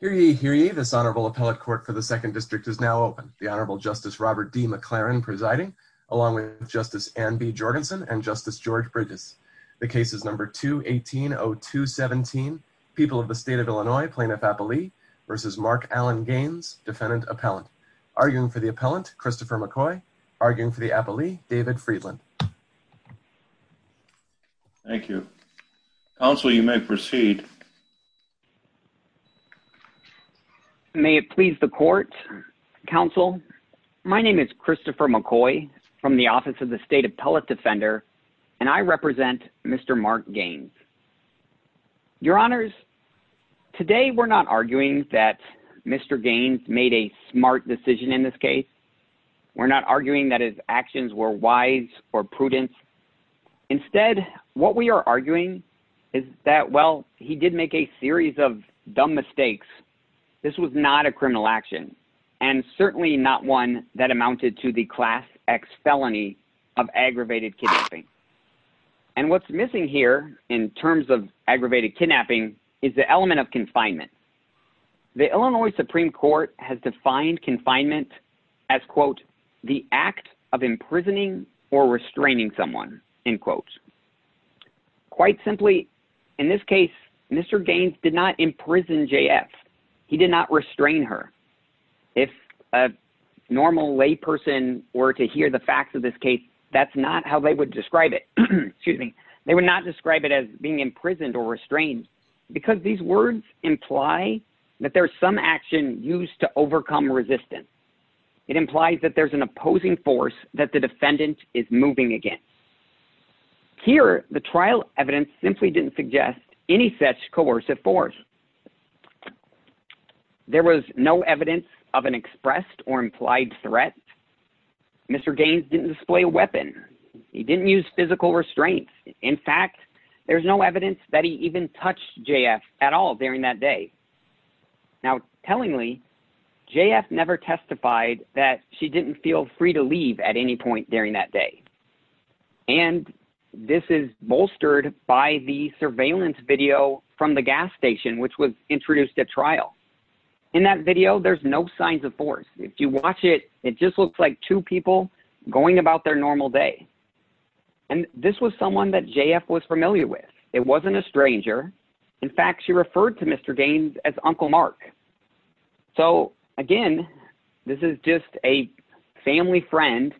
Hear ye, hear ye, this Honorable Appellate Court for the 2nd District is now open. The Honorable Justice Robert D. McLaren presiding, along with Justice Anne B. Jorgensen and Justice George Bridges. The case is number 2180217, People of the State of Illinois, Plaintiff-Appellee v. Mark Allen Gaines, Defendant-Appellant. Arguing for the Appellant, Christopher McCoy. Arguing for the Appellee, David Friedland. Thank you. Counsel, you may proceed. May it please the Court, Counsel, my name is Christopher McCoy from the Office of the State Appellate Defender, and I represent Mr. Mark Gaines. Your Honors, today we're not arguing that Mr. Gaines made a smart decision in this case. We're not arguing that his actions were wise or prudent. Instead, what we are arguing is that, well, he did make a series of dumb mistakes. This was not a criminal action, and certainly not one that amounted to the Class X felony of aggravated kidnapping. And what's missing here, in terms of aggravated kidnapping, is the element of confinement. The Illinois Supreme Court has defined confinement as, quote, the act of imprisoning or restraining someone, end quote. Quite simply, in this case, Mr. Gaines did not imprison J.F. He did not restrain her. If a normal layperson were to hear the facts of this case, that's not how they would describe it. Excuse me. They would not describe it as being imprisoned or restrained. Because these words imply that there's some action used to overcome resistance. It implies that there's an opposing force that the defendant is moving against. Here, the trial evidence simply didn't suggest any such coercive force. There was no evidence of an expressed or implied threat. Mr. Gaines didn't display a weapon. He didn't use physical restraints. In fact, there's no evidence that he even touched J.F. at all during that day. Now, tellingly, J.F. never testified that she didn't feel free to leave at any point during that day. And this is bolstered by the surveillance video from the gas station, which was introduced at trial. In that video, there's no signs of force. If you watch it, it just looks like two people going about their normal day. And this was someone that J.F. was familiar with. It wasn't a stranger. In fact, she referred to Mr. Gaines as Uncle Mark. So again, this is just a family friend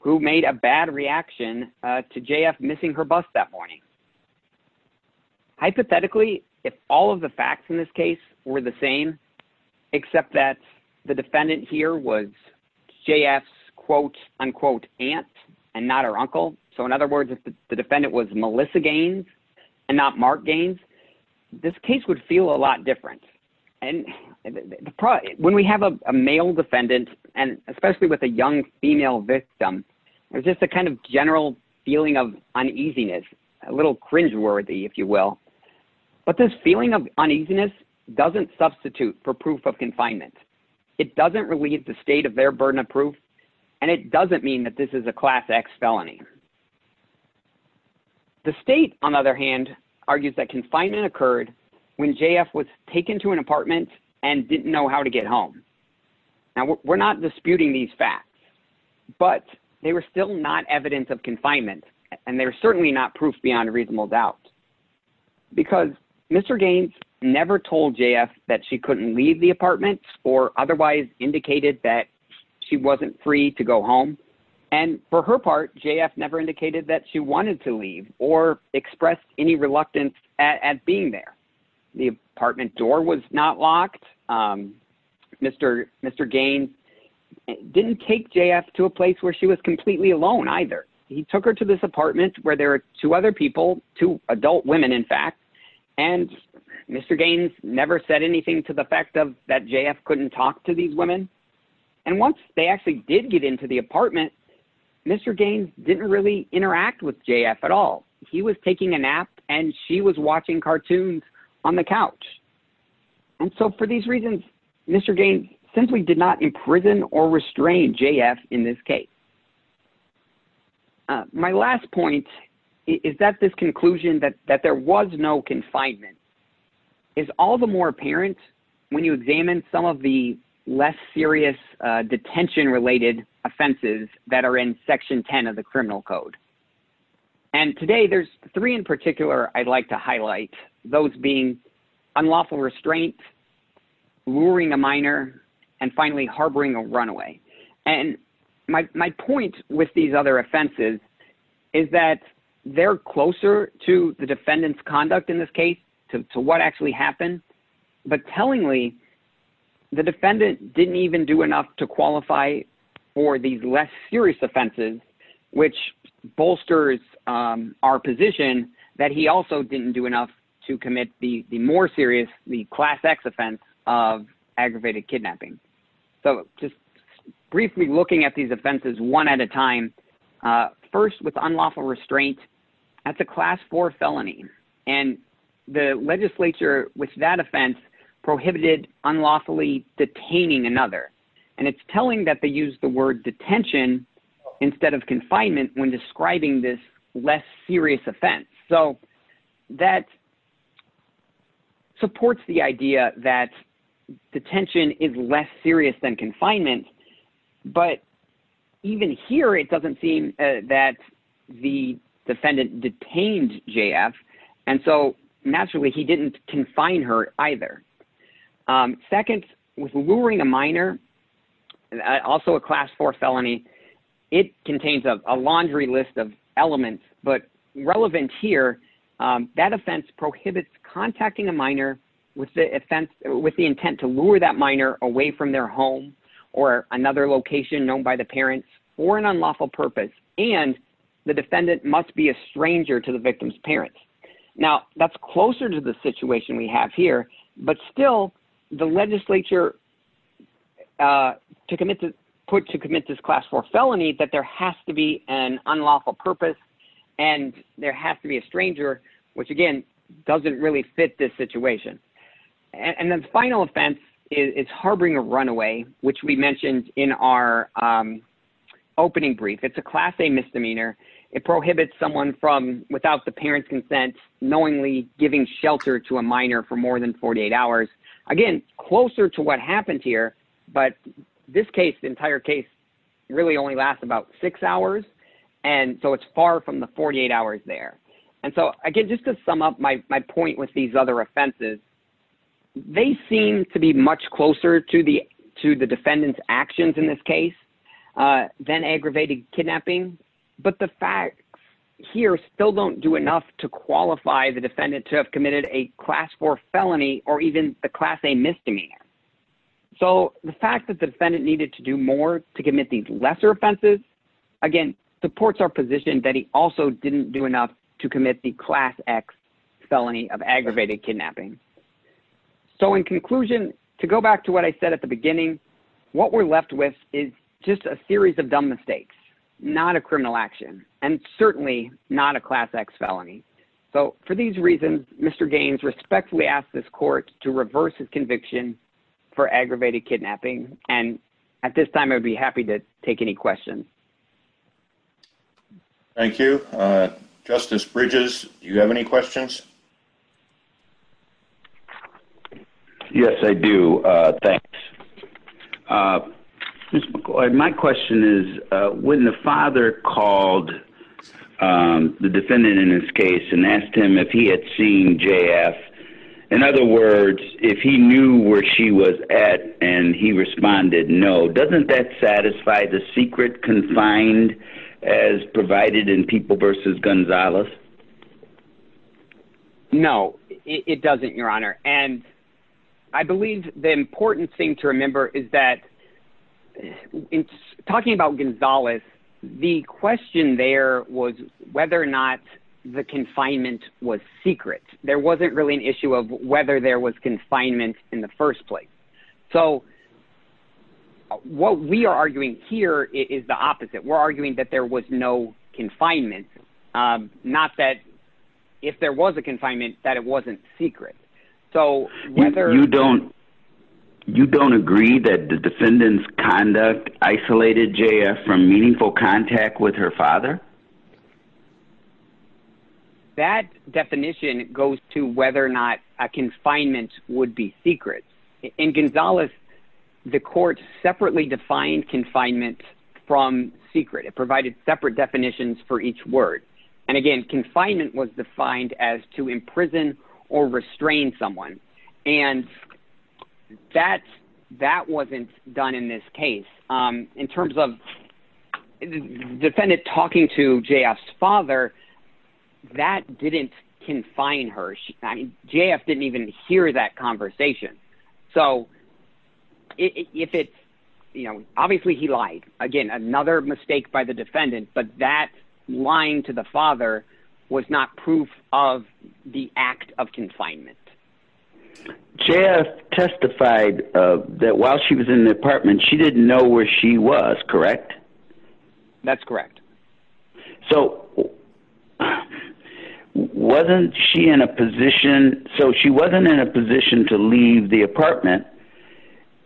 who made a bad reaction to J.F. missing her bus that morning. Hypothetically, if all of the facts in this case were the same, except that the defendant here was J.F.'s quote-unquote aunt and not her uncle, so in other words, if the defendant was Melissa Gaines and not Mark Gaines, this case would feel a lot different. And when we have a male defendant, and especially with a young female victim, there's just a kind of general feeling of uneasiness, a little cringeworthy, if you will. But this feeling of uneasiness doesn't substitute for proof of confinement. It doesn't relieve the state of their burden of proof, and it doesn't mean that this is a Class X felony. The state, on the other hand, argues that confinement occurred when J.F. was taken to an apartment and didn't know how to get home. Now, we're not disputing these facts, but they were still not evidence of confinement, and they were certainly not proof beyond reasonable doubt. Because Mr. Gaines never told J.F. that she couldn't leave the apartment or otherwise indicated that she wasn't free to go home, and for her part, J.F. never indicated that she wanted to leave or expressed any reluctance at being there. The apartment door was not locked. Mr. Gaines didn't take J.F. to a place where she was completely alone, either. He took her to this apartment where there were two other people, two adult women, in fact, and Mr. Gaines never said anything to the effect of that J.F. couldn't talk to these women. And once they actually did get into the apartment, Mr. Gaines didn't really interact with J.F. at all. He was taking a nap, and she was watching cartoons on the couch. And so for these reasons, Mr. Gaines simply did not imprison or restrain J.F. in this case. My last point is that this conclusion that there was no confinement is all the more apparent when you examine some of the less serious detention-related offenses that are in Section 10 of the Criminal Code. And today, there's three in particular I'd like to highlight, those being unlawful restraint, luring a minor, and finally, harboring a runaway. And my point with these other offenses is that they're closer to the defendant's conduct in this case, to what actually happened, but tellingly, the defendant didn't even do enough to qualify for these less serious offenses, which bolsters our position that he also didn't do enough to commit the more serious, the Class X offense of aggravated kidnapping. So just briefly looking at these offenses one at a time, first with unlawful restraint, that's a Class IV felony, and the legislature with that offense prohibited unlawfully detaining another. And it's telling that they used the word detention instead of confinement when describing this less serious offense. So that supports the idea that detention is less serious than confinement, but even here, it doesn't seem that the defendant detained J.F., and so naturally, he didn't confine her either. Second, with luring a minor, also a Class IV felony, it contains a laundry list of elements, but relevant here, that offense prohibits contacting a minor with the intent to lure that minor away from their home or another location known by the parents for an unlawful purpose, and the defendant must be a stranger to the victim's parents. Now, that's closer to the situation we have here, but still, the legislature put to commit this Class IV felony that there has to be an unlawful purpose, and there has to be a stranger, which again, doesn't really fit this situation. And the final offense is harboring a runaway, which we mentioned in our opening brief. It's a Class A misdemeanor. It prohibits someone from, without the parent's consent, knowingly giving shelter to a minor for more than 48 hours. Again, closer to what happened here, but this case, the entire case, really only lasts about six hours, and so it's far from the 48 hours there. And so again, just to sum up my point with these other offenses, they seem to be much closer to the defendant's actions in this case than aggravated kidnapping, but the facts here still don't do enough to qualify the defendant to have committed a Class IV felony or even the Class A misdemeanor. So the fact that the defendant needed to do more to commit these lesser offenses, again, supports our position that he also didn't do enough to commit the Class X felony of aggravated kidnapping. So in conclusion, to go back to what I said at the beginning, what we're left with is just a series of dumb mistakes, not a criminal action, and certainly not a Class X felony. So for these reasons, Mr. Gaines respectfully asked this court to reverse his conviction for aggravated kidnapping, and at this time, I'd be happy to take any questions. Thank you. Justice Bridges, do you have any questions? Yes, I do. Thanks. Mr. McCoy, my question is, when the father called the defendant in this case and asked him if he had seen J.F., in other words, if he knew where she was at and he responded no, doesn't that satisfy the secret confined as provided in People v. Gonzales? No, it doesn't, Your Honor. And I believe the important thing to remember is that, talking about Gonzales, the question there was whether or not the confinement was secret. There wasn't really an issue of whether there was confinement in the first place. So what we are arguing here is the opposite. We're arguing that there was no confinement, not that if there was a confinement, that it wasn't secret. You don't agree that the defendant's conduct isolated J.F. from meaningful contact with her father? That definition goes to whether or not a confinement would be secret. In Gonzales, the court separately defined confinement from secret. It provided separate definitions for each word. And again, confinement was defined as to imprison or restrain someone. And that wasn't done in this case. In terms of the defendant talking to J.F.'s father, that didn't confine her. J.F. didn't even hear that conversation. So if it's, you know, obviously he lied. Again, another mistake by the defendant, but that lying to the father was not proof of the act of confinement. J.F. testified that while she was in the apartment, she didn't know where she was, correct? That's correct. So wasn't she in a position, so she wasn't in a position to leave the apartment.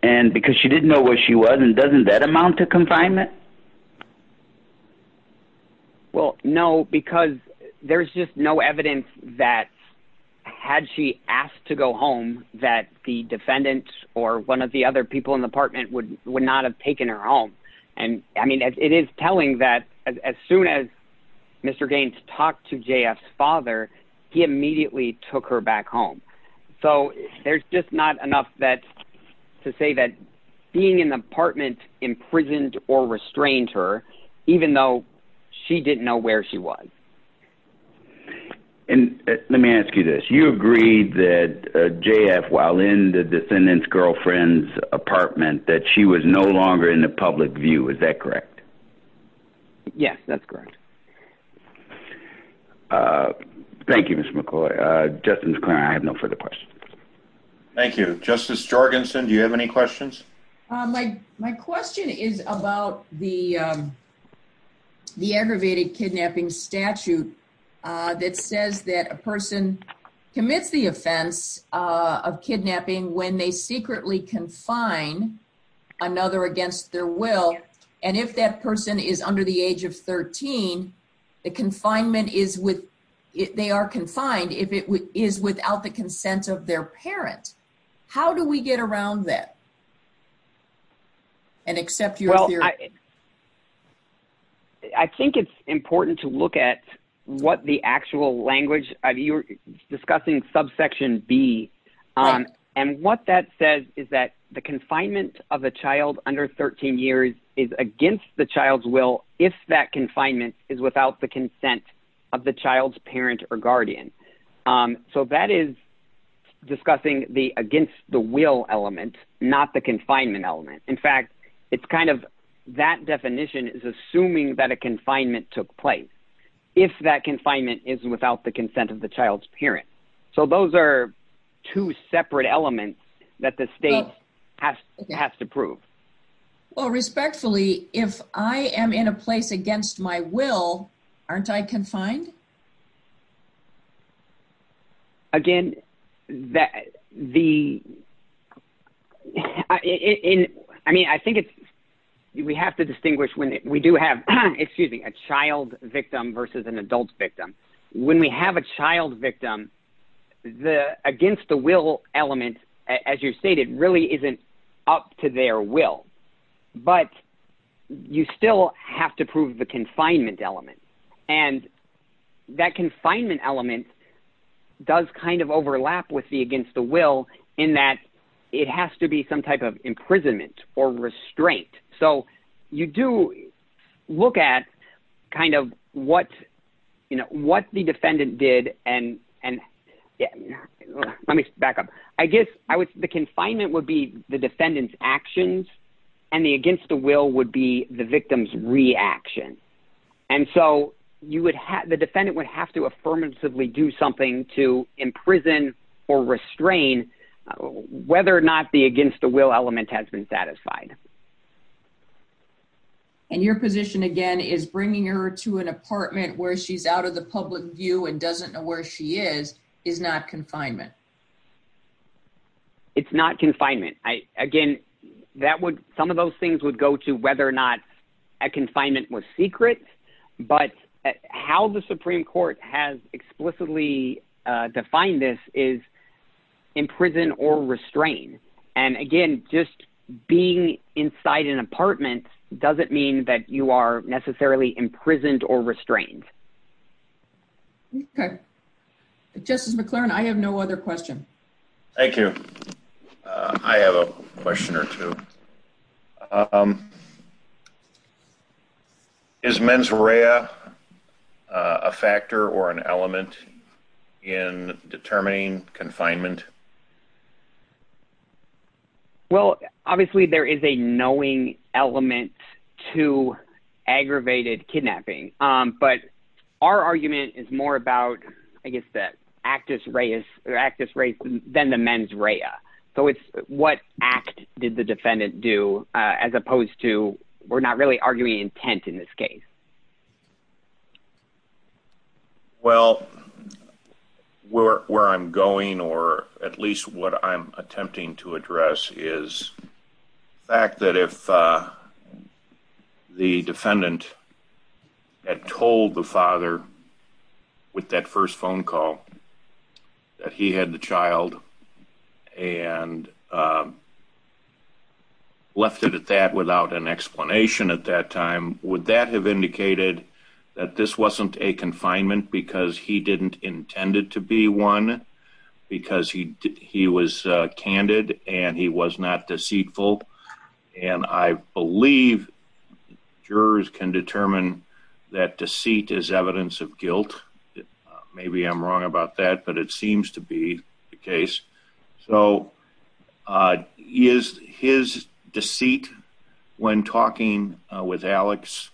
And because she didn't know where she was, then doesn't that amount to confinement? Well, no, because there's just no evidence that had she asked to go home, that the defendant or one of the other people in the apartment would not have taken her home. And I mean, it is telling that as soon as Mr. Gaines talked to J.F.'s father, he immediately took her back home. So there's just not enough to say that being in the apartment imprisoned or restrained her, even though she didn't know where she was. And let me ask you this. You agreed that J.F., while in the defendant's girlfriend's apartment, that she was no longer in the public view, is that correct? Yes, that's correct. Thank you, Mr. McCoy. Justice McClain, I have no further questions. Thank you. Justice Jorgensen, do you have any questions? My question is about the aggravated kidnapping statute that says that a person commits the offense of kidnapping when they secretly confine another against their will. And if that person is under the age of 13, the confinement is with... They are confined if it is without the consent of their parent. How do we get around that and accept your theory? Well, I think it's important to look at what the actual language... You're discussing subsection B, and what that says is that the confinement of a child under 13 years is against the child's will if that confinement is without the consent of the child's parent or guardian. So that is discussing the against the will element, not the confinement element. In fact, it's kind of... That definition is assuming that a confinement took place if that confinement is without the consent of the child's parent. So those are two separate elements that the state has to prove. Well, respectfully, if I am in a place against my will, aren't I confined? Again, the... I mean, I think we have to distinguish when we do have... Excuse me, a child victim versus an adult victim. When we have a child victim, the against the will element, as you've stated, really isn't up to their will. But you still have to prove the confinement element. And that confinement element does kind of overlap with the against the will in that it has to be some type of imprisonment or restraint. So you do look at kind of what the defendant did and... Let me back up. I guess the confinement would be the defendant's actions and the against the will would be the victim's reaction. And so you would have... The defendant would have to affirmatively do something to imprison or restrain whether or not the against the will element has been satisfied. And your position, again, is bringing her to an apartment where she's out of the public view and doesn't know where she is, is not confinement. It's not confinement. Again, some of those things would go to whether or not a confinement was secret. But how the Supreme Court has explicitly defined this is imprison or restrain. And again, just being inside an apartment doesn't mean that you are necessarily imprisoned or restrained. Okay. Justice McClernand, I have no other question. Thank you. I have a question or two. Is mens rea a factor or an element in determining confinement? Well, obviously, there is a knowing element to aggravated kidnapping. But our argument is more about, I guess, the actus reis... ...than the mens rea. So, it's what act did the defendant do as opposed to... We're not really arguing intent in this case. Well, where I'm going or at least what I'm attempting to address is the fact that if the defendant had told the father with that first phone call that he had the child and left it at that without an explanation at that time, would that have indicated that this wasn't a confinement because he didn't intend it to be one? Because he was candid and he was not deceitful. And I believe jurors can determine that deceit is evidence of guilt. Maybe I'm wrong about that, but it seems to be the case. So, is his deceit when talking with Alex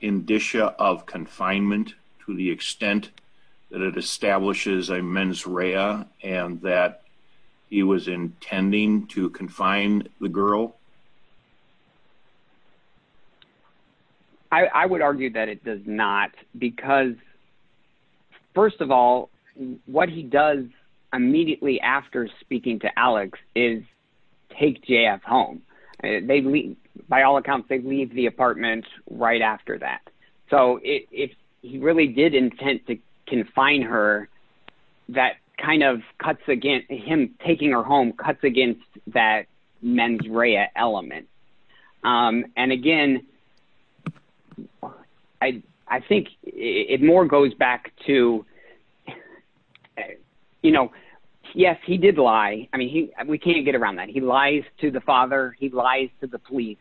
indicia of confinement to the extent that it establishes a mens rea and that he was intending to confine the girl? I would argue that it does not because, first of all, what he does immediately after speaking to Alex is take J.F. home. By all accounts, they leave the apartment right after that. So, if he really did intend to confine her, that kind of cuts against him taking her home cuts against that mens rea. And, again, I think it more goes back to, you know, yes, he did lie. I mean, we can't get around that. He lies to the father. He lies to the police.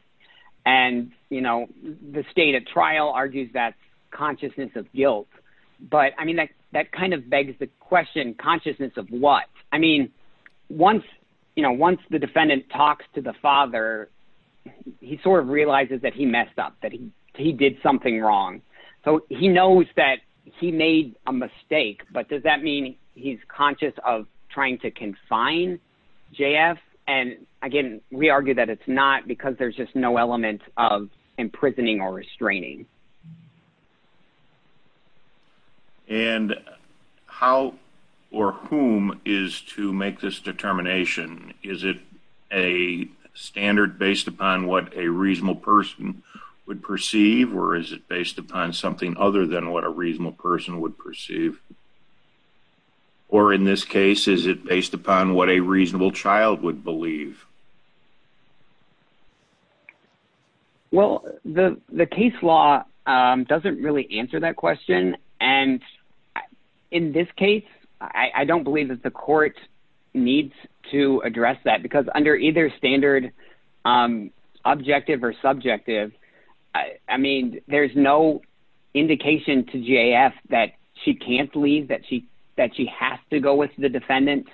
And, you know, the state at trial argues that consciousness of guilt. But, I mean, that kind of begs the question consciousness of what? I mean, once the defendant talks to the father, he sort of realizes that he messed up, that he did something wrong. So, he knows that he made a mistake, but does that mean he's conscious of trying to confine J.F.? And, again, we argue that it's not because there's just no element of imprisoning or restraining. And how or whom is to make this determination? Is it a standard based upon what a reasonable person would perceive, or is it based upon something other than what a reasonable person would perceive? Or, in this case, is it based upon what a reasonable child would believe? Well, the case law doesn't really answer that question. And, in this case, I don't believe that the court needs to address that because under either standard objective or subjective, I mean, there's no indication to J.F. that she can't leave, that she has to go with the defendant.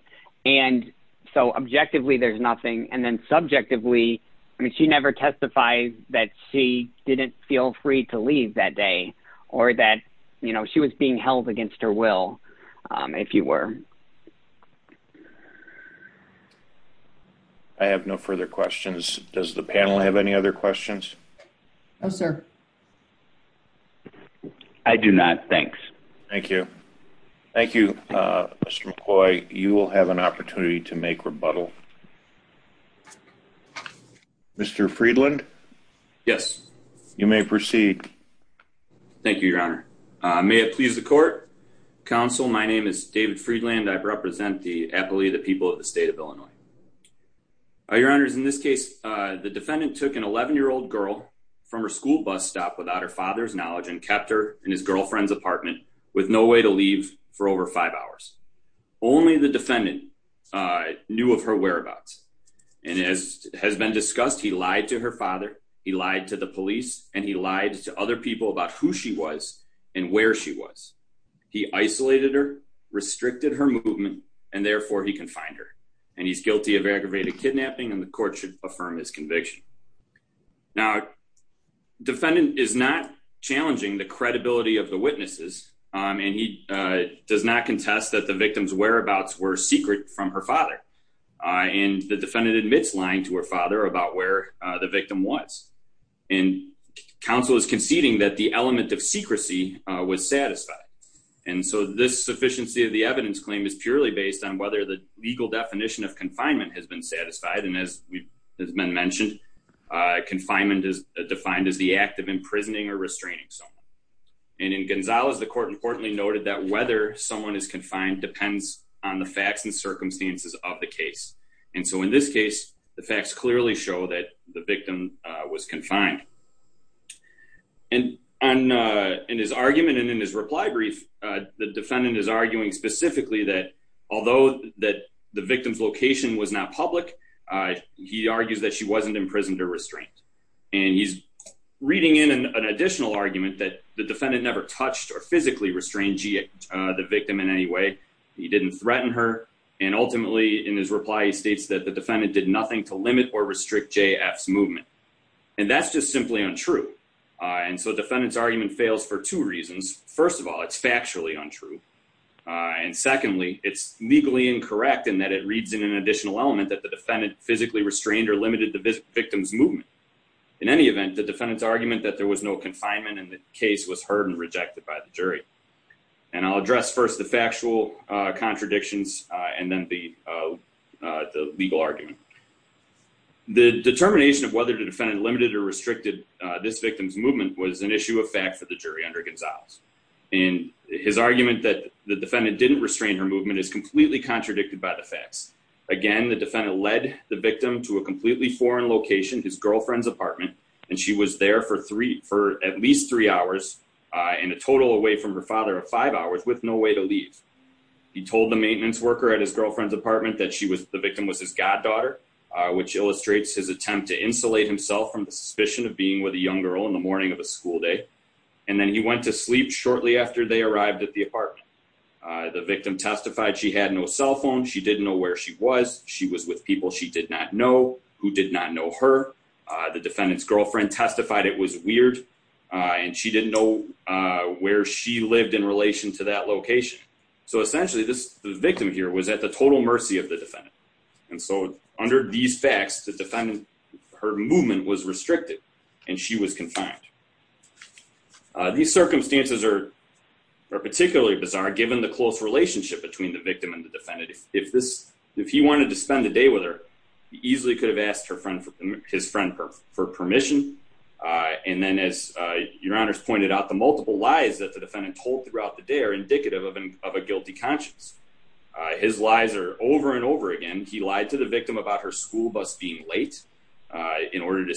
And so, objectively, there's nothing. And then subjectively, I mean, she never testifies that she didn't feel free to leave that day or that she was being held against her will, if you were. I have no further questions. Does the panel have any other questions? No, sir. I do not. Thanks. Thank you. Thank you, Mr. McCoy. You will have an opportunity to make rebuttal. Mr. Friedland? Yes. You may proceed. Thank you, Your Honor. May it please the court. Counsel, my name is David Friedland. I represent the Appalachian people of the state of Illinois. Your Honor, in this case, the defendant took an 11-year-old girl from her school bus stop without her father's knowledge and kept her in his girlfriend's apartment with no way to leave for over five hours. Only the defendant knew of her whereabouts. And as has been discussed, he lied to her father, he lied to the police, and he lied to other people about who she was and where she was. He isolated her, restricted her movement, and therefore he confined her. And he's guilty of aggravated kidnapping, and the court should affirm his conviction. Now, the defendant is not challenging the credibility of the witnesses, and he does not contest that the victim's whereabouts were secret from her father. And the defendant admits lying to her father about where the victim was. And counsel is conceding that the element of secrecy was satisfied. And so this sufficiency of the evidence claim is purely based on whether the legal definition of confinement has been satisfied. And as has been mentioned, confinement is defined as the act of imprisoning or restraining someone. And in Gonzalez, the court importantly noted that whether someone is confined depends on the facts and circumstances of the case. And so in this case, the facts clearly show that the victim was confined. And in his argument and in his reply brief, the defendant is arguing specifically that although the victim's location was not public, he argues that she wasn't imprisoned or restrained. And he's reading in an additional argument that the defendant never touched or physically restrained the victim in any way. He didn't threaten her. And ultimately, in his reply, he states that the defendant did nothing to limit or restrict J.F.'s movement. And that's just simply untrue. And so the defendant's argument fails for two reasons. First of all, it's factually untrue. And secondly, it's legally incorrect in that it reads in an additional element that the defendant physically restrained or limited the victim's movement. In any event, the defendant's argument that there was no confinement in the case was heard and rejected by the jury. And I'll address first the factual contradictions and then the legal argument. The determination of whether the defendant limited or restricted this victim's movement was an issue of fact for the jury under Gonzalez. And his argument that the defendant didn't restrain her movement is completely contradicted by the facts. Again, the defendant led the victim to a completely foreign location, his girlfriend's apartment, and she was there for at least three hours and a total away from her father of five hours with no way to leave. He told the maintenance worker at his girlfriend's apartment that the victim was his goddaughter, which illustrates his attempt to insulate himself from the suspicion of being with a young girl in the morning of a school day. And then he went to sleep shortly after they arrived at the apartment. The victim testified she had no cell phone. She didn't know where she was. She was with people she did not know who did not know her. The defendant's girlfriend testified it was weird and she didn't know where she lived in relation to that location. So essentially, this victim here was at the total mercy of the defendant. And so under these facts, the defendant, her movement was restricted and she was confined. These circumstances are particularly bizarre, given the close relationship between the victim and the defendant. If this if he wanted to spend the day with her, he easily could have asked her friend, his friend for permission. And then, as your honor's pointed out, the multiple lies that the defendant told throughout the day are indicative of a guilty conscience. His lies are over and over again. He lied to the victim about her school bus being late in order to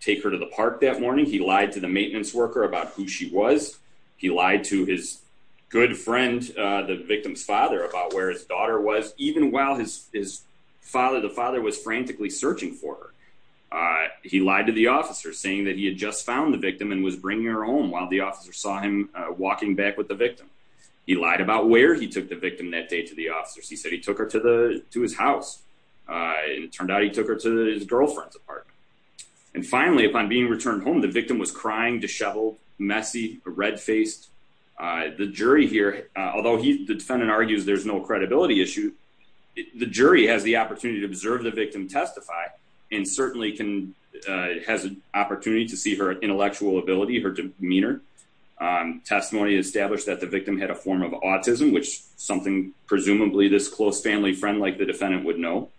take her to the park that morning. He lied to the maintenance worker about who she was. He lied to his good friend, the victim's father, about where his daughter was, even while his father, the father was frantically searching for her. He lied to the officer, saying that he had just found the victim and was bringing her home while the officer saw him walking back with the victim. He lied about where he took the victim that day to the officers. He said he took her to the to his house. It turned out he took her to his girlfriend's apartment. And finally, upon being returned home, the victim was crying, disheveled, messy, red faced. The jury here, although the defendant argues there's no credibility issue. The jury has the opportunity to observe the victim testify and certainly can has an opportunity to see her intellectual ability, her demeanor. Testimony established that the victim had a form of autism, which something presumably this close family friend like the defendant would know.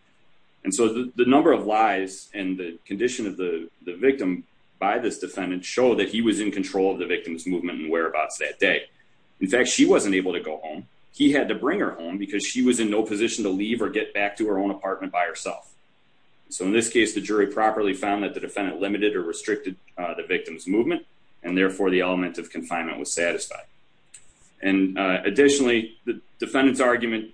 And so the number of lies and the condition of the victim by this defendant show that he was in control of the victim's movement and whereabouts that day. In fact, she wasn't able to go home. He had to bring her home because she was in no position to leave or get back to her own apartment by herself. So in this case, the jury properly found that the defendant limited or restricted the victim's movement, and therefore the element of confinement was satisfied. And additionally, the defendant's argument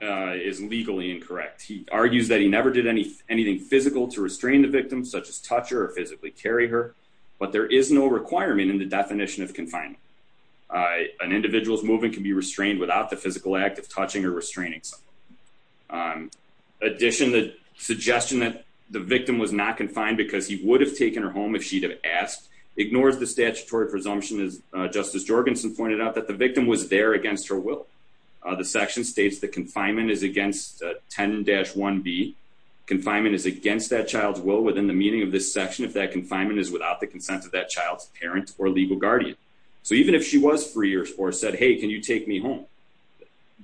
is legally incorrect. He argues that he never did any anything physical to restrain the victim, such as touch or physically carry her. But there is no requirement in the definition of confinement. An individual's movement can be restrained without the physical act of touching or restraining. In addition, the suggestion that the victim was not confined because he would have taken her home if she'd have asked ignores the statutory presumption, as Justice Jorgensen pointed out, that the victim was there against her will. The section states that confinement is against 10-1B. Confinement is against that child's will within the meaning of this section if that confinement is without the consent of that child's parents or legal guardian. So even if she was free or said, hey, can you take me home?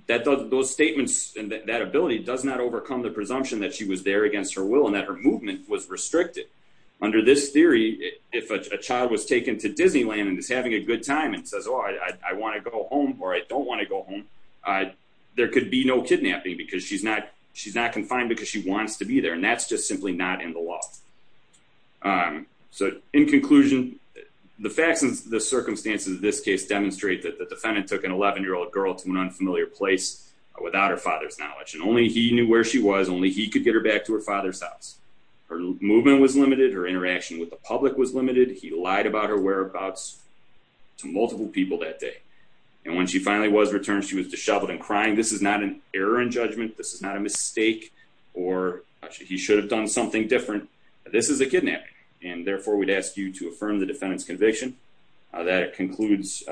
Those statements and that ability does not overcome the presumption that she was there against her will and that her movement was restricted. Under this theory, if a child was taken to Disneyland and is having a good time and says, oh, I want to go home or I don't want to go home, there could be no kidnapping because she's not confined because she wants to be there. And that's just simply not in the law. So in conclusion, the facts and the circumstances of this case demonstrate that the defendant took an 11-year-old girl to an unfamiliar place without her father's knowledge. And only he knew where she was. Only he could get her back to her father's house. Her movement was limited. Her interaction with the public was limited. He lied about her whereabouts to multiple people that day. And when she finally was returned, she was disheveled and crying. This is not an error in judgment. This is not a mistake or he should have done something different. This is a kidnapping. And therefore, we'd ask you to affirm the defendant's conviction. That concludes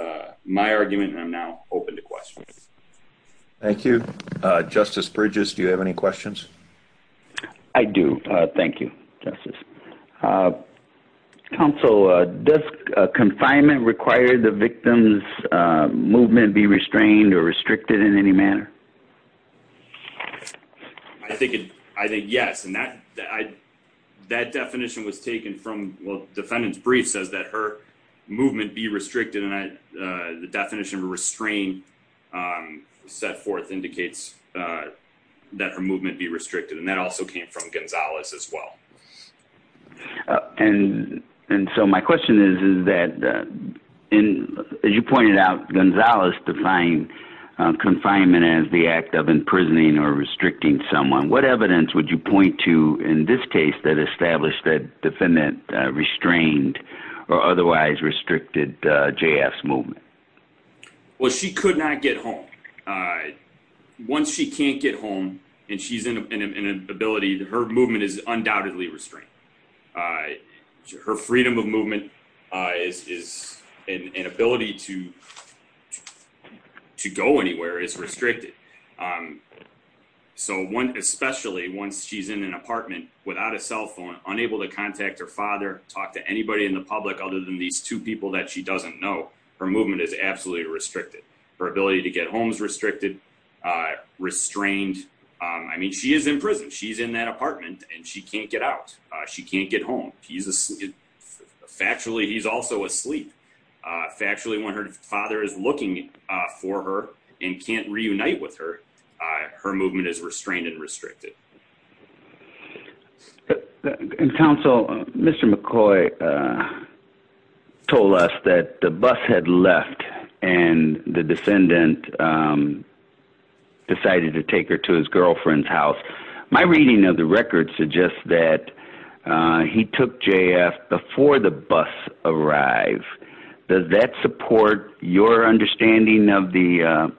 my argument. I'm now open to questions. Thank you, Justice Bridges. Do you have any questions? I do. Thank you, Justice. Counsel, does confinement require the victim's movement be restrained or restricted in any manner? I think yes. And that definition was taken from the defendant's brief says that her movement be restricted. And the definition of restrain set forth indicates that her movement be restricted. And that also came from Gonzalez as well. And and so my question is, is that in, as you pointed out, Gonzalez defined confinement as the act of imprisoning or restricting someone. What evidence would you point to in this case that established that defendant restrained or otherwise restricted J.S. movement? Well, she could not get home once she can't get home. And she's in an ability. Her movement is undoubtedly restrained. Her freedom of movement is an ability to to go anywhere is restricted. So one, especially once she's in an apartment without a cell phone, unable to contact her father, talk to anybody in the public other than these two people that she doesn't know, her movement is absolutely restricted. Her ability to get homes restricted, restrained. I mean, she is in prison. She's in that apartment and she can't get out. She can't get home. He's asleep. Factually, he's also asleep. Factually, when her father is looking for her and can't reunite with her, her movement is restrained and restricted. And counsel, Mr. McCoy told us that the bus had left and the descendant decided to take her to his girlfriend's house. My reading of the record suggests that he took J.S. before the bus arrived. Does that support your understanding of the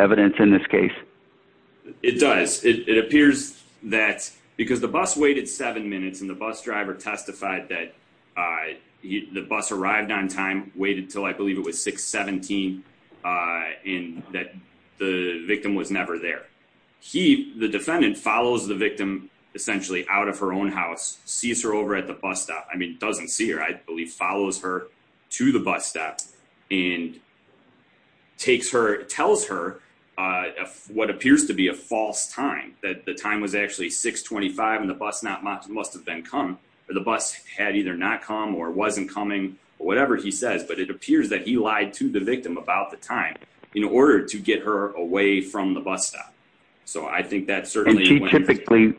evidence in this case? It does. It appears that because the bus waited seven minutes and the bus driver testified that the bus arrived on time, waited till I believe it was 617 and that the victim was never there. He, the defendant, follows the victim essentially out of her own house, sees her over at the bus stop. I mean, doesn't see her, I believe, follows her to the bus stop and takes her, tells her what appears to be a false time, that the time was actually 625 and the bus not must have been come or the bus had either not come or wasn't coming or whatever he says. But it appears that he lied to the victim about the time in order to get her away from the bus stop. So I think that certainly typically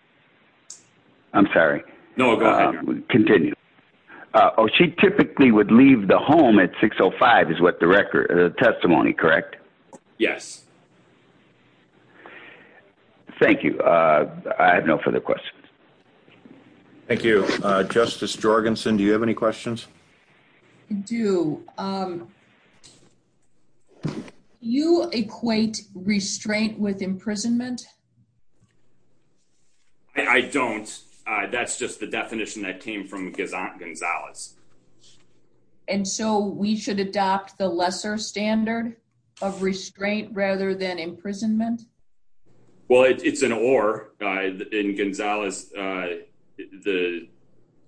I'm sorry. No, continue. Oh, she typically would leave the home at 605 is what the record testimony. Correct. Yes. Thank you. I have no further questions. Thank you, Justice Jorgensen. Do you have any questions? Do you equate restraint with imprisonment? I don't. That's just the definition that came from Gonzalez. And so we should adopt the lesser standard of restraint rather than imprisonment. Well, it's an or in Gonzalez. The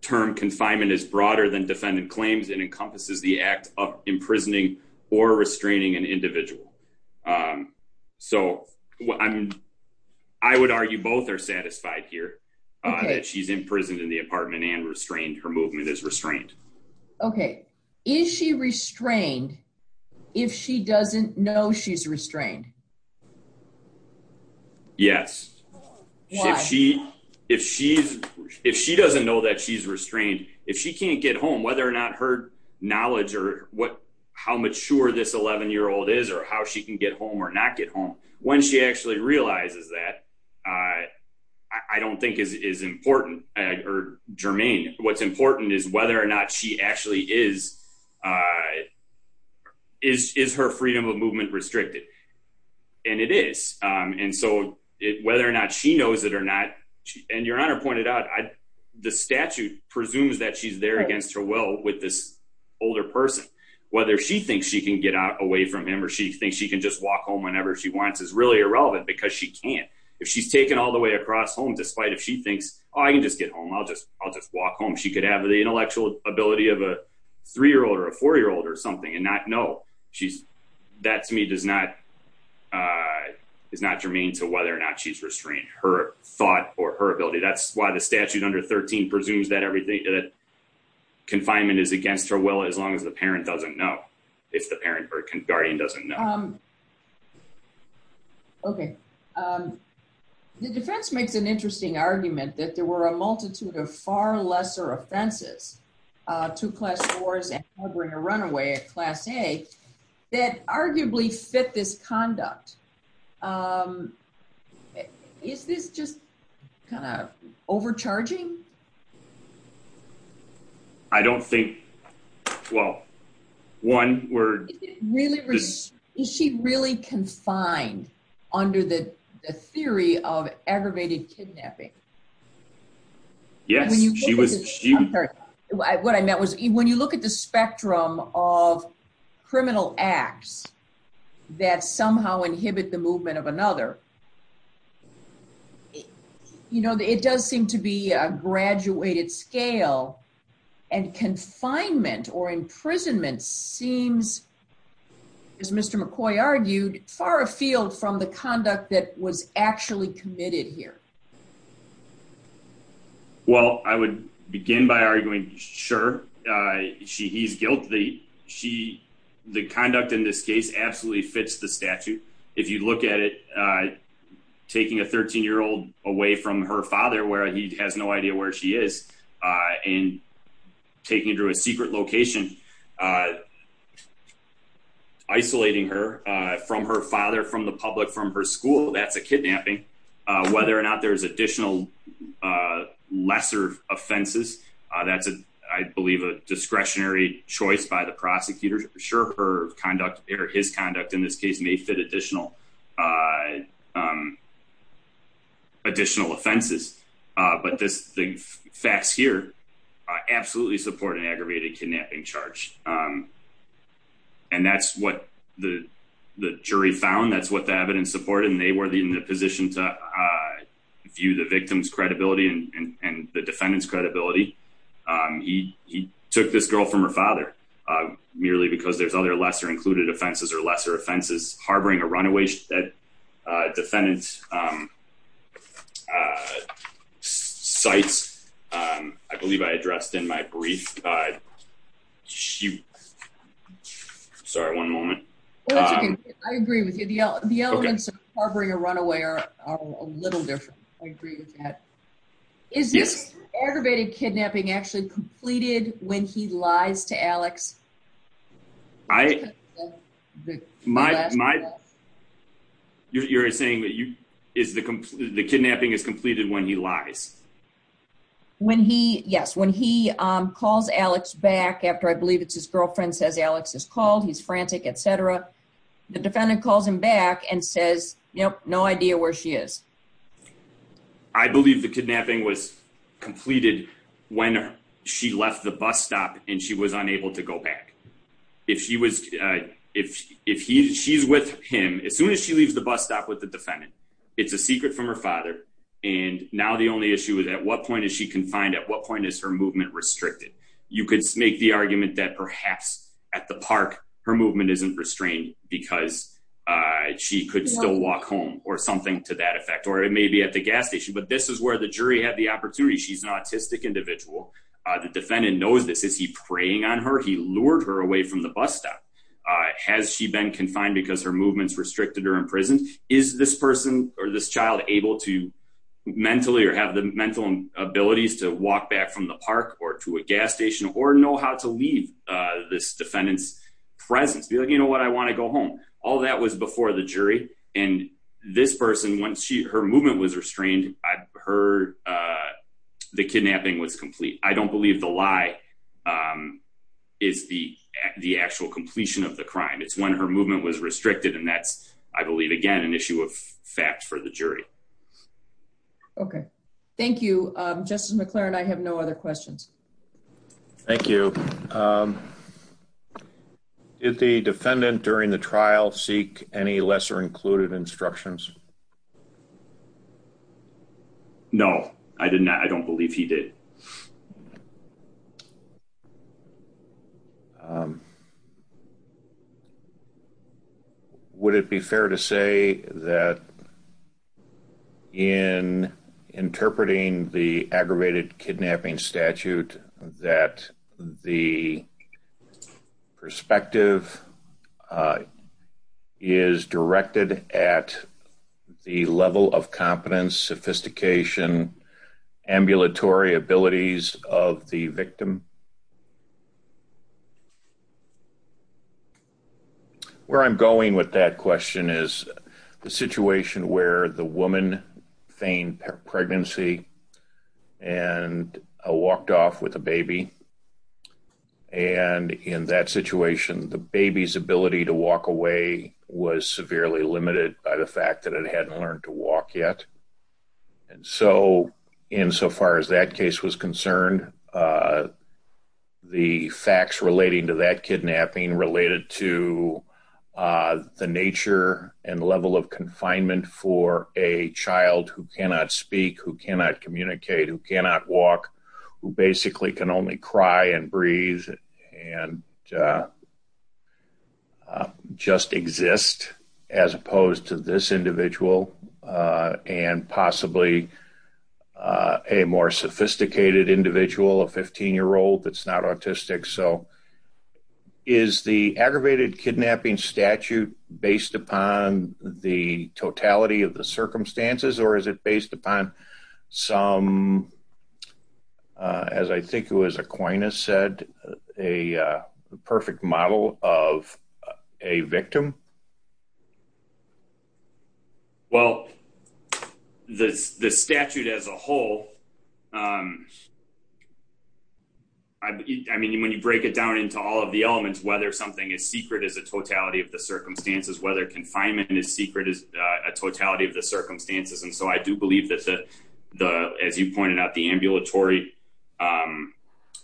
term confinement is broader than defendant claims and encompasses the act of imprisoning or restraining an individual. So I would argue both are satisfied here that she's in prison in the apartment and restrained her movement is restrained. OK. Is she restrained if she doesn't know she's restrained? Yes. She if she's if she doesn't know that she's restrained, if she can't get home, whether or not her knowledge or what how mature this 11 year old is or how she can get home or not get home when she actually realizes that. I don't think is important or germane. What's important is whether or not she actually is is is her freedom of movement restricted. And it is. And so whether or not she knows it or not, and your honor pointed out the statute presumes that she's there against her will with this older person, whether she thinks she can get out away from him or she thinks she can just walk home whenever she wants is really irrelevant because she can't. If she's taken all the way across home, despite if she thinks I can just get home, I'll just I'll just walk home. She could have the intellectual ability of a three year old or a four year old or something and not know she's that to me does not is not germane to whether or not she's restrained her thought or her ability. That's why the statute under 13 presumes that everything that confinement is against her. Well, as long as the parent doesn't know if the parent or guardian doesn't know. Okay. The defense makes an interesting argument that there were a multitude of far lesser offenses to class wars and bring a runaway at Class A that arguably fit this conduct. Is this just kind of overcharging. I don't think. Well, one word really is she really confined under the theory of aggravated kidnapping. Yes, she was. What I meant was, when you look at the spectrum of criminal acts that somehow inhibit the movement of another. You know, it does seem to be a graduated scale and confinement or imprisonment seems as Mr McCoy argued far afield from the conduct that was actually committed here. Well, I would begin by arguing. Sure. She he's guilty. She. The conduct in this case absolutely fits the statute. If you look at it, taking a 13 year old away from her father where he has no idea where she is, and taking it to a secret location, isolating her from her father, from the public, from her school, that's a kidnapping, whether or not there's additional lesser offenses. That's, I believe, a discretionary choice by the prosecutor. Sure. Her conduct or his conduct in this case may fit additional additional offenses. But this thing fast here. I absolutely support an aggravated kidnapping charge. And that's what the jury found. That's what the evidence support and they were in a position to view the victim's credibility and the defendant's credibility. He took this girl from her father, merely because there's other lesser included offenses or lesser offenses harboring a runaway that defendants. Sites. I believe I addressed in my brief. Shoot. Sorry. One moment. I agree with you. The, the elements of harboring a runaway are a little different. I agree with that. Is this aggravated kidnapping actually completed when he lies to Alex I My, my You're saying that you is the the kidnapping is completed when he lies. When he yes when he calls Alex back after I believe it's his girlfriend says Alex is called. He's frantic, etc. The defendant calls him back and says, you know, no idea where she is. I believe the kidnapping was completed when she left the bus stop and she was unable to go back. If she was, if, if he she's with him as soon as she leaves the bus stop with the defendant. It's a secret from her father. And now the only issue is at what point is she confined at what point is her movement restricted, you could make the argument that perhaps at the park her movement isn't restrained because She could still walk home or something to that effect, or it may be at the gas station, but this is where the jury had the opportunity. She's an autistic individual. The defendant knows this is he preying on her. He lured her away from the bus stop. Has she been confined because her movements restricted her in prison. Is this person or this child able to Mentally or have the mental abilities to walk back from the park or to a gas station or know how to leave this defendant's Presence be like, you know what I want to go home. All that was before the jury and this person. Once she her movement was restrained. I heard The kidnapping was complete. I don't believe the lie. Is the, the actual completion of the crime. It's when her movement was restricted. And that's, I believe, again, an issue of fact for the jury. Okay, thank you. Just McLaren. I have no other questions. Thank you. Is the defendant during the trial seek any lesser included instructions. No, I didn't. I don't believe he did. Would it be fair to say that In interpreting the aggravated kidnapping statute that the Perspective. Is directed at the level of competence sophistication ambulatory abilities of the victim. Where I'm going with that question is the situation where the woman feigned pregnancy and walked off with a baby. And in that situation, the baby's ability to walk away was severely limited by the fact that it hadn't learned to walk yet. And so, in so far as that case was concerned. The facts relating to that kidnapping related to the nature and level of confinement for a child who cannot speak who cannot communicate who cannot walk who basically can only cry and breathe and Just exist as opposed to this individual and possibly A more sophisticated individual a 15 year old that's not autistic so Is the aggravated kidnapping statute based upon the totality of the circumstances or is it based upon some As I think it was Aquinas said a perfect model of a victim. Well, This this statute as a whole. I mean, when you break it down into all of the elements, whether something is secret is a totality of the circumstances, whether confinement is secret is a totality of the circumstances. And so I do believe that the the as you pointed out the ambulatory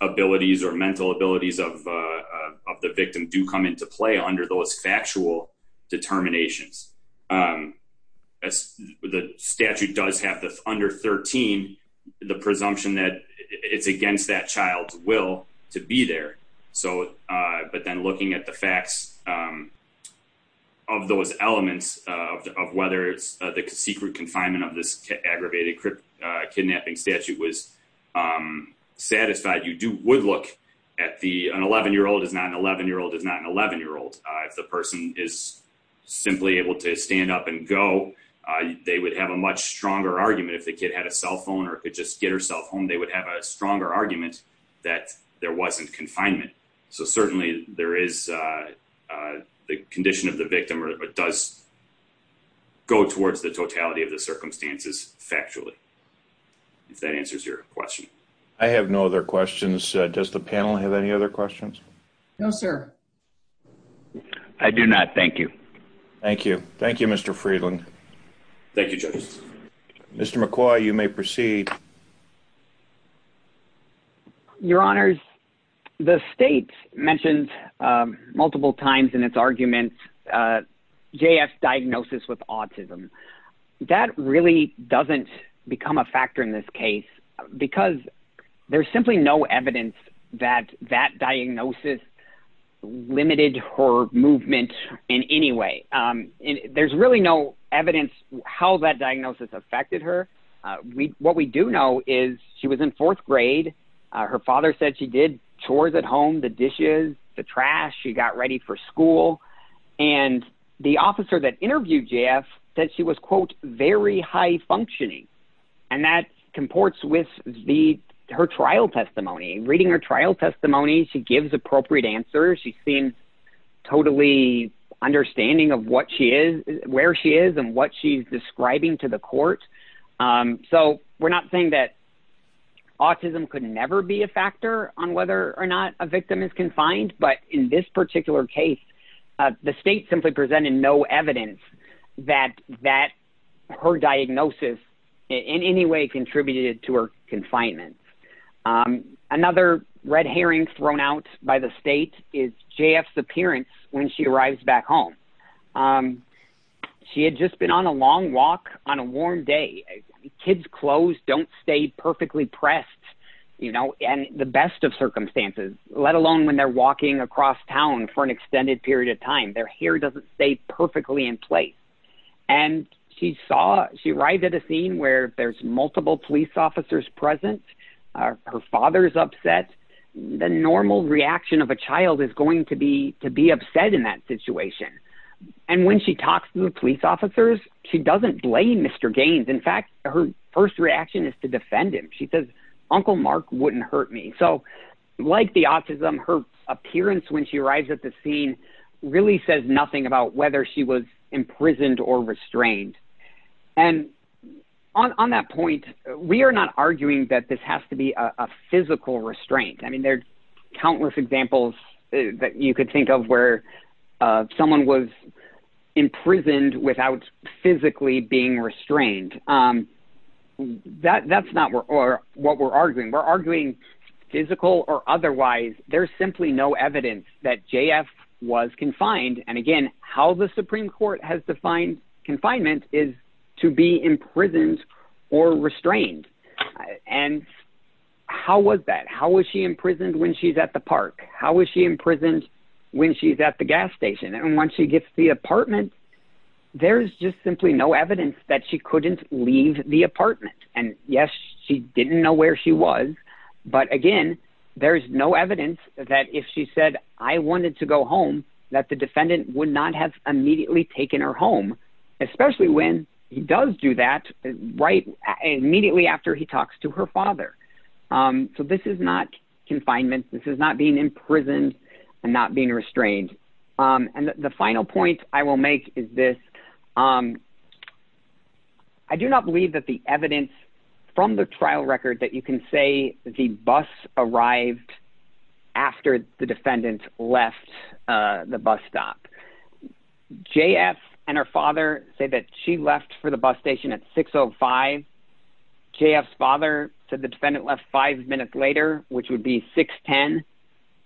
Abilities or mental abilities of the victim do come into play under those factual determinations. As the statute does have this under 13 the presumption that it's against that child's will to be there. So, but then looking at the facts. Of those elements of whether it's the secret confinement of this aggravated kidnapping statute was Satisfied you do would look at the an 11 year old is not an 11 year old is not an 11 year old. If the person is simply able to stand up and go They would have a much stronger argument if the kid had a cell phone or could just get herself home. They would have a stronger argument that there wasn't confinement. So certainly there is The condition of the victim or does Go towards the totality of the circumstances factually If that answers your question. I have no other questions. Does the panel have any other questions. I do not. Thank you. Thank you. Thank you, Mr. Friedland. Thank you. Mr. McCoy, you may proceed. Your honors. The state mentioned multiple times in its argument. J.S. diagnosis with autism. That really doesn't become a factor in this case because there's simply no evidence that that diagnosis. Limited her movement in any way. There's really no evidence how that diagnosis affected her. What we do know is she was in fourth grade. Her father said she did chores at home, the dishes, the trash. She got ready for school. And the officer that interviewed Jeff that she was, quote, very high functioning. And that comports with the her trial testimony, reading her trial testimony. She gives appropriate answers. She's been Totally understanding of what she is, where she is and what she's describing to the court. So we're not saying that Autism could never be a factor on whether or not a victim is confined. But in this particular case, the state simply presented no evidence that that her diagnosis In any way contributed to her confinement. Another red herring thrown out by the state is J.F.'s appearance when she arrives back home. She had just been on a long walk on a warm day. Kids clothes don't stay perfectly pressed, you know, and the best of circumstances, let alone when they're walking across town for an extended period of time. Their hair doesn't stay perfectly in place. And she saw she arrived at a scene where there's multiple police officers present. Her father is upset. The normal reaction of a child is going to be to be upset in that situation. And when she talks to the police officers, she doesn't blame Mr. Gaines. In fact, her first reaction is to defend him. She says, Uncle Mark wouldn't hurt me. So Like the Autism, her appearance when she arrives at the scene really says nothing about whether she was imprisoned or restrained. And on that point, we are not arguing that this has to be a physical restraint. I mean, there's countless examples that you could think of where someone was imprisoned without physically being restrained. That's not what we're arguing. We're arguing physical or otherwise. There's simply no evidence that J.F. was confined. And again, how the Supreme Court has defined confinement is to be imprisoned or restrained. And how was that? How was she imprisoned when she's at the park? How was she imprisoned when she's at the gas station? And when she gets the apartment, there's just simply no evidence that she couldn't leave the apartment. And yes, she didn't know where she was. But again, there's no evidence that if she said, I wanted to go home, that the defendant would not have immediately taken her home, especially when he does do that right immediately after he talks to her father. So this is not confinement. This is not being imprisoned and not being restrained. And the final point I will make is this. I do not believe that the evidence from the trial record that you can say the bus arrived after the defendant left the bus stop. J.F. and her father say that she left for the bus station at 6.05. J.F.'s father said the defendant left five minutes later, which would be 6.10.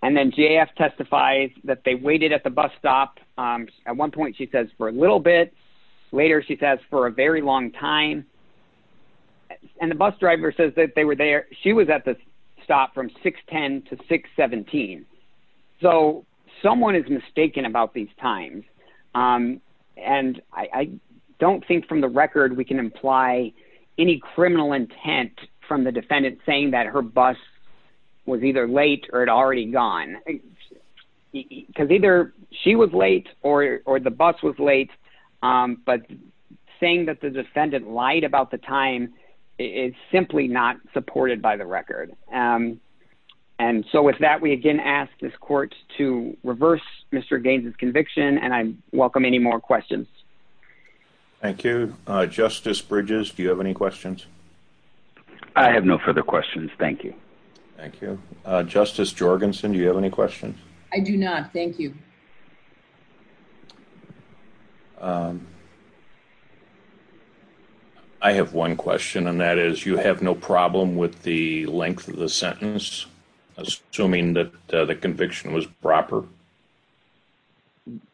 And then J.F. testifies that they waited at the bus stop at one point, she says, for a little bit later, she says, for a very long time. And the bus driver says that they were there. She was at the stop from 6.10 to 6.17. So someone is mistaken about these times. And I don't think from the record we can imply any criminal intent from the defendant saying that her bus was either late or had already gone. Because either she was late or the bus was late. But saying that the defendant lied about the time is simply not supported by the record. And so with that, we again ask this court to reverse Mr. Gaines's conviction. And I welcome any more questions. Thank you. Justice Bridges, do you have any questions? I have no further questions. Thank you. Thank you. Justice Jorgensen, do you have any questions? I do not. Thank you. I have one question, and that is, you have no problem with the length of the sentence, assuming that the conviction was proper?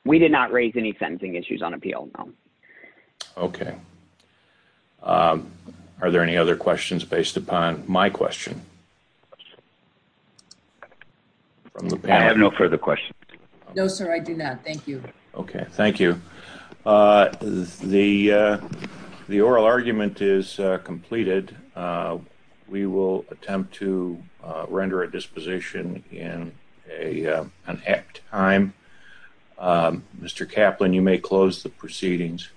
We did not raise any sentencing issues on appeal. Okay. Are there any other questions based upon my question? I have no further questions. No, sir, I do not. Thank you. Okay. Thank you. The oral argument is completed. We will attempt to render a disposition in an apt time. Mr. Kaplan, you may close the proceedings.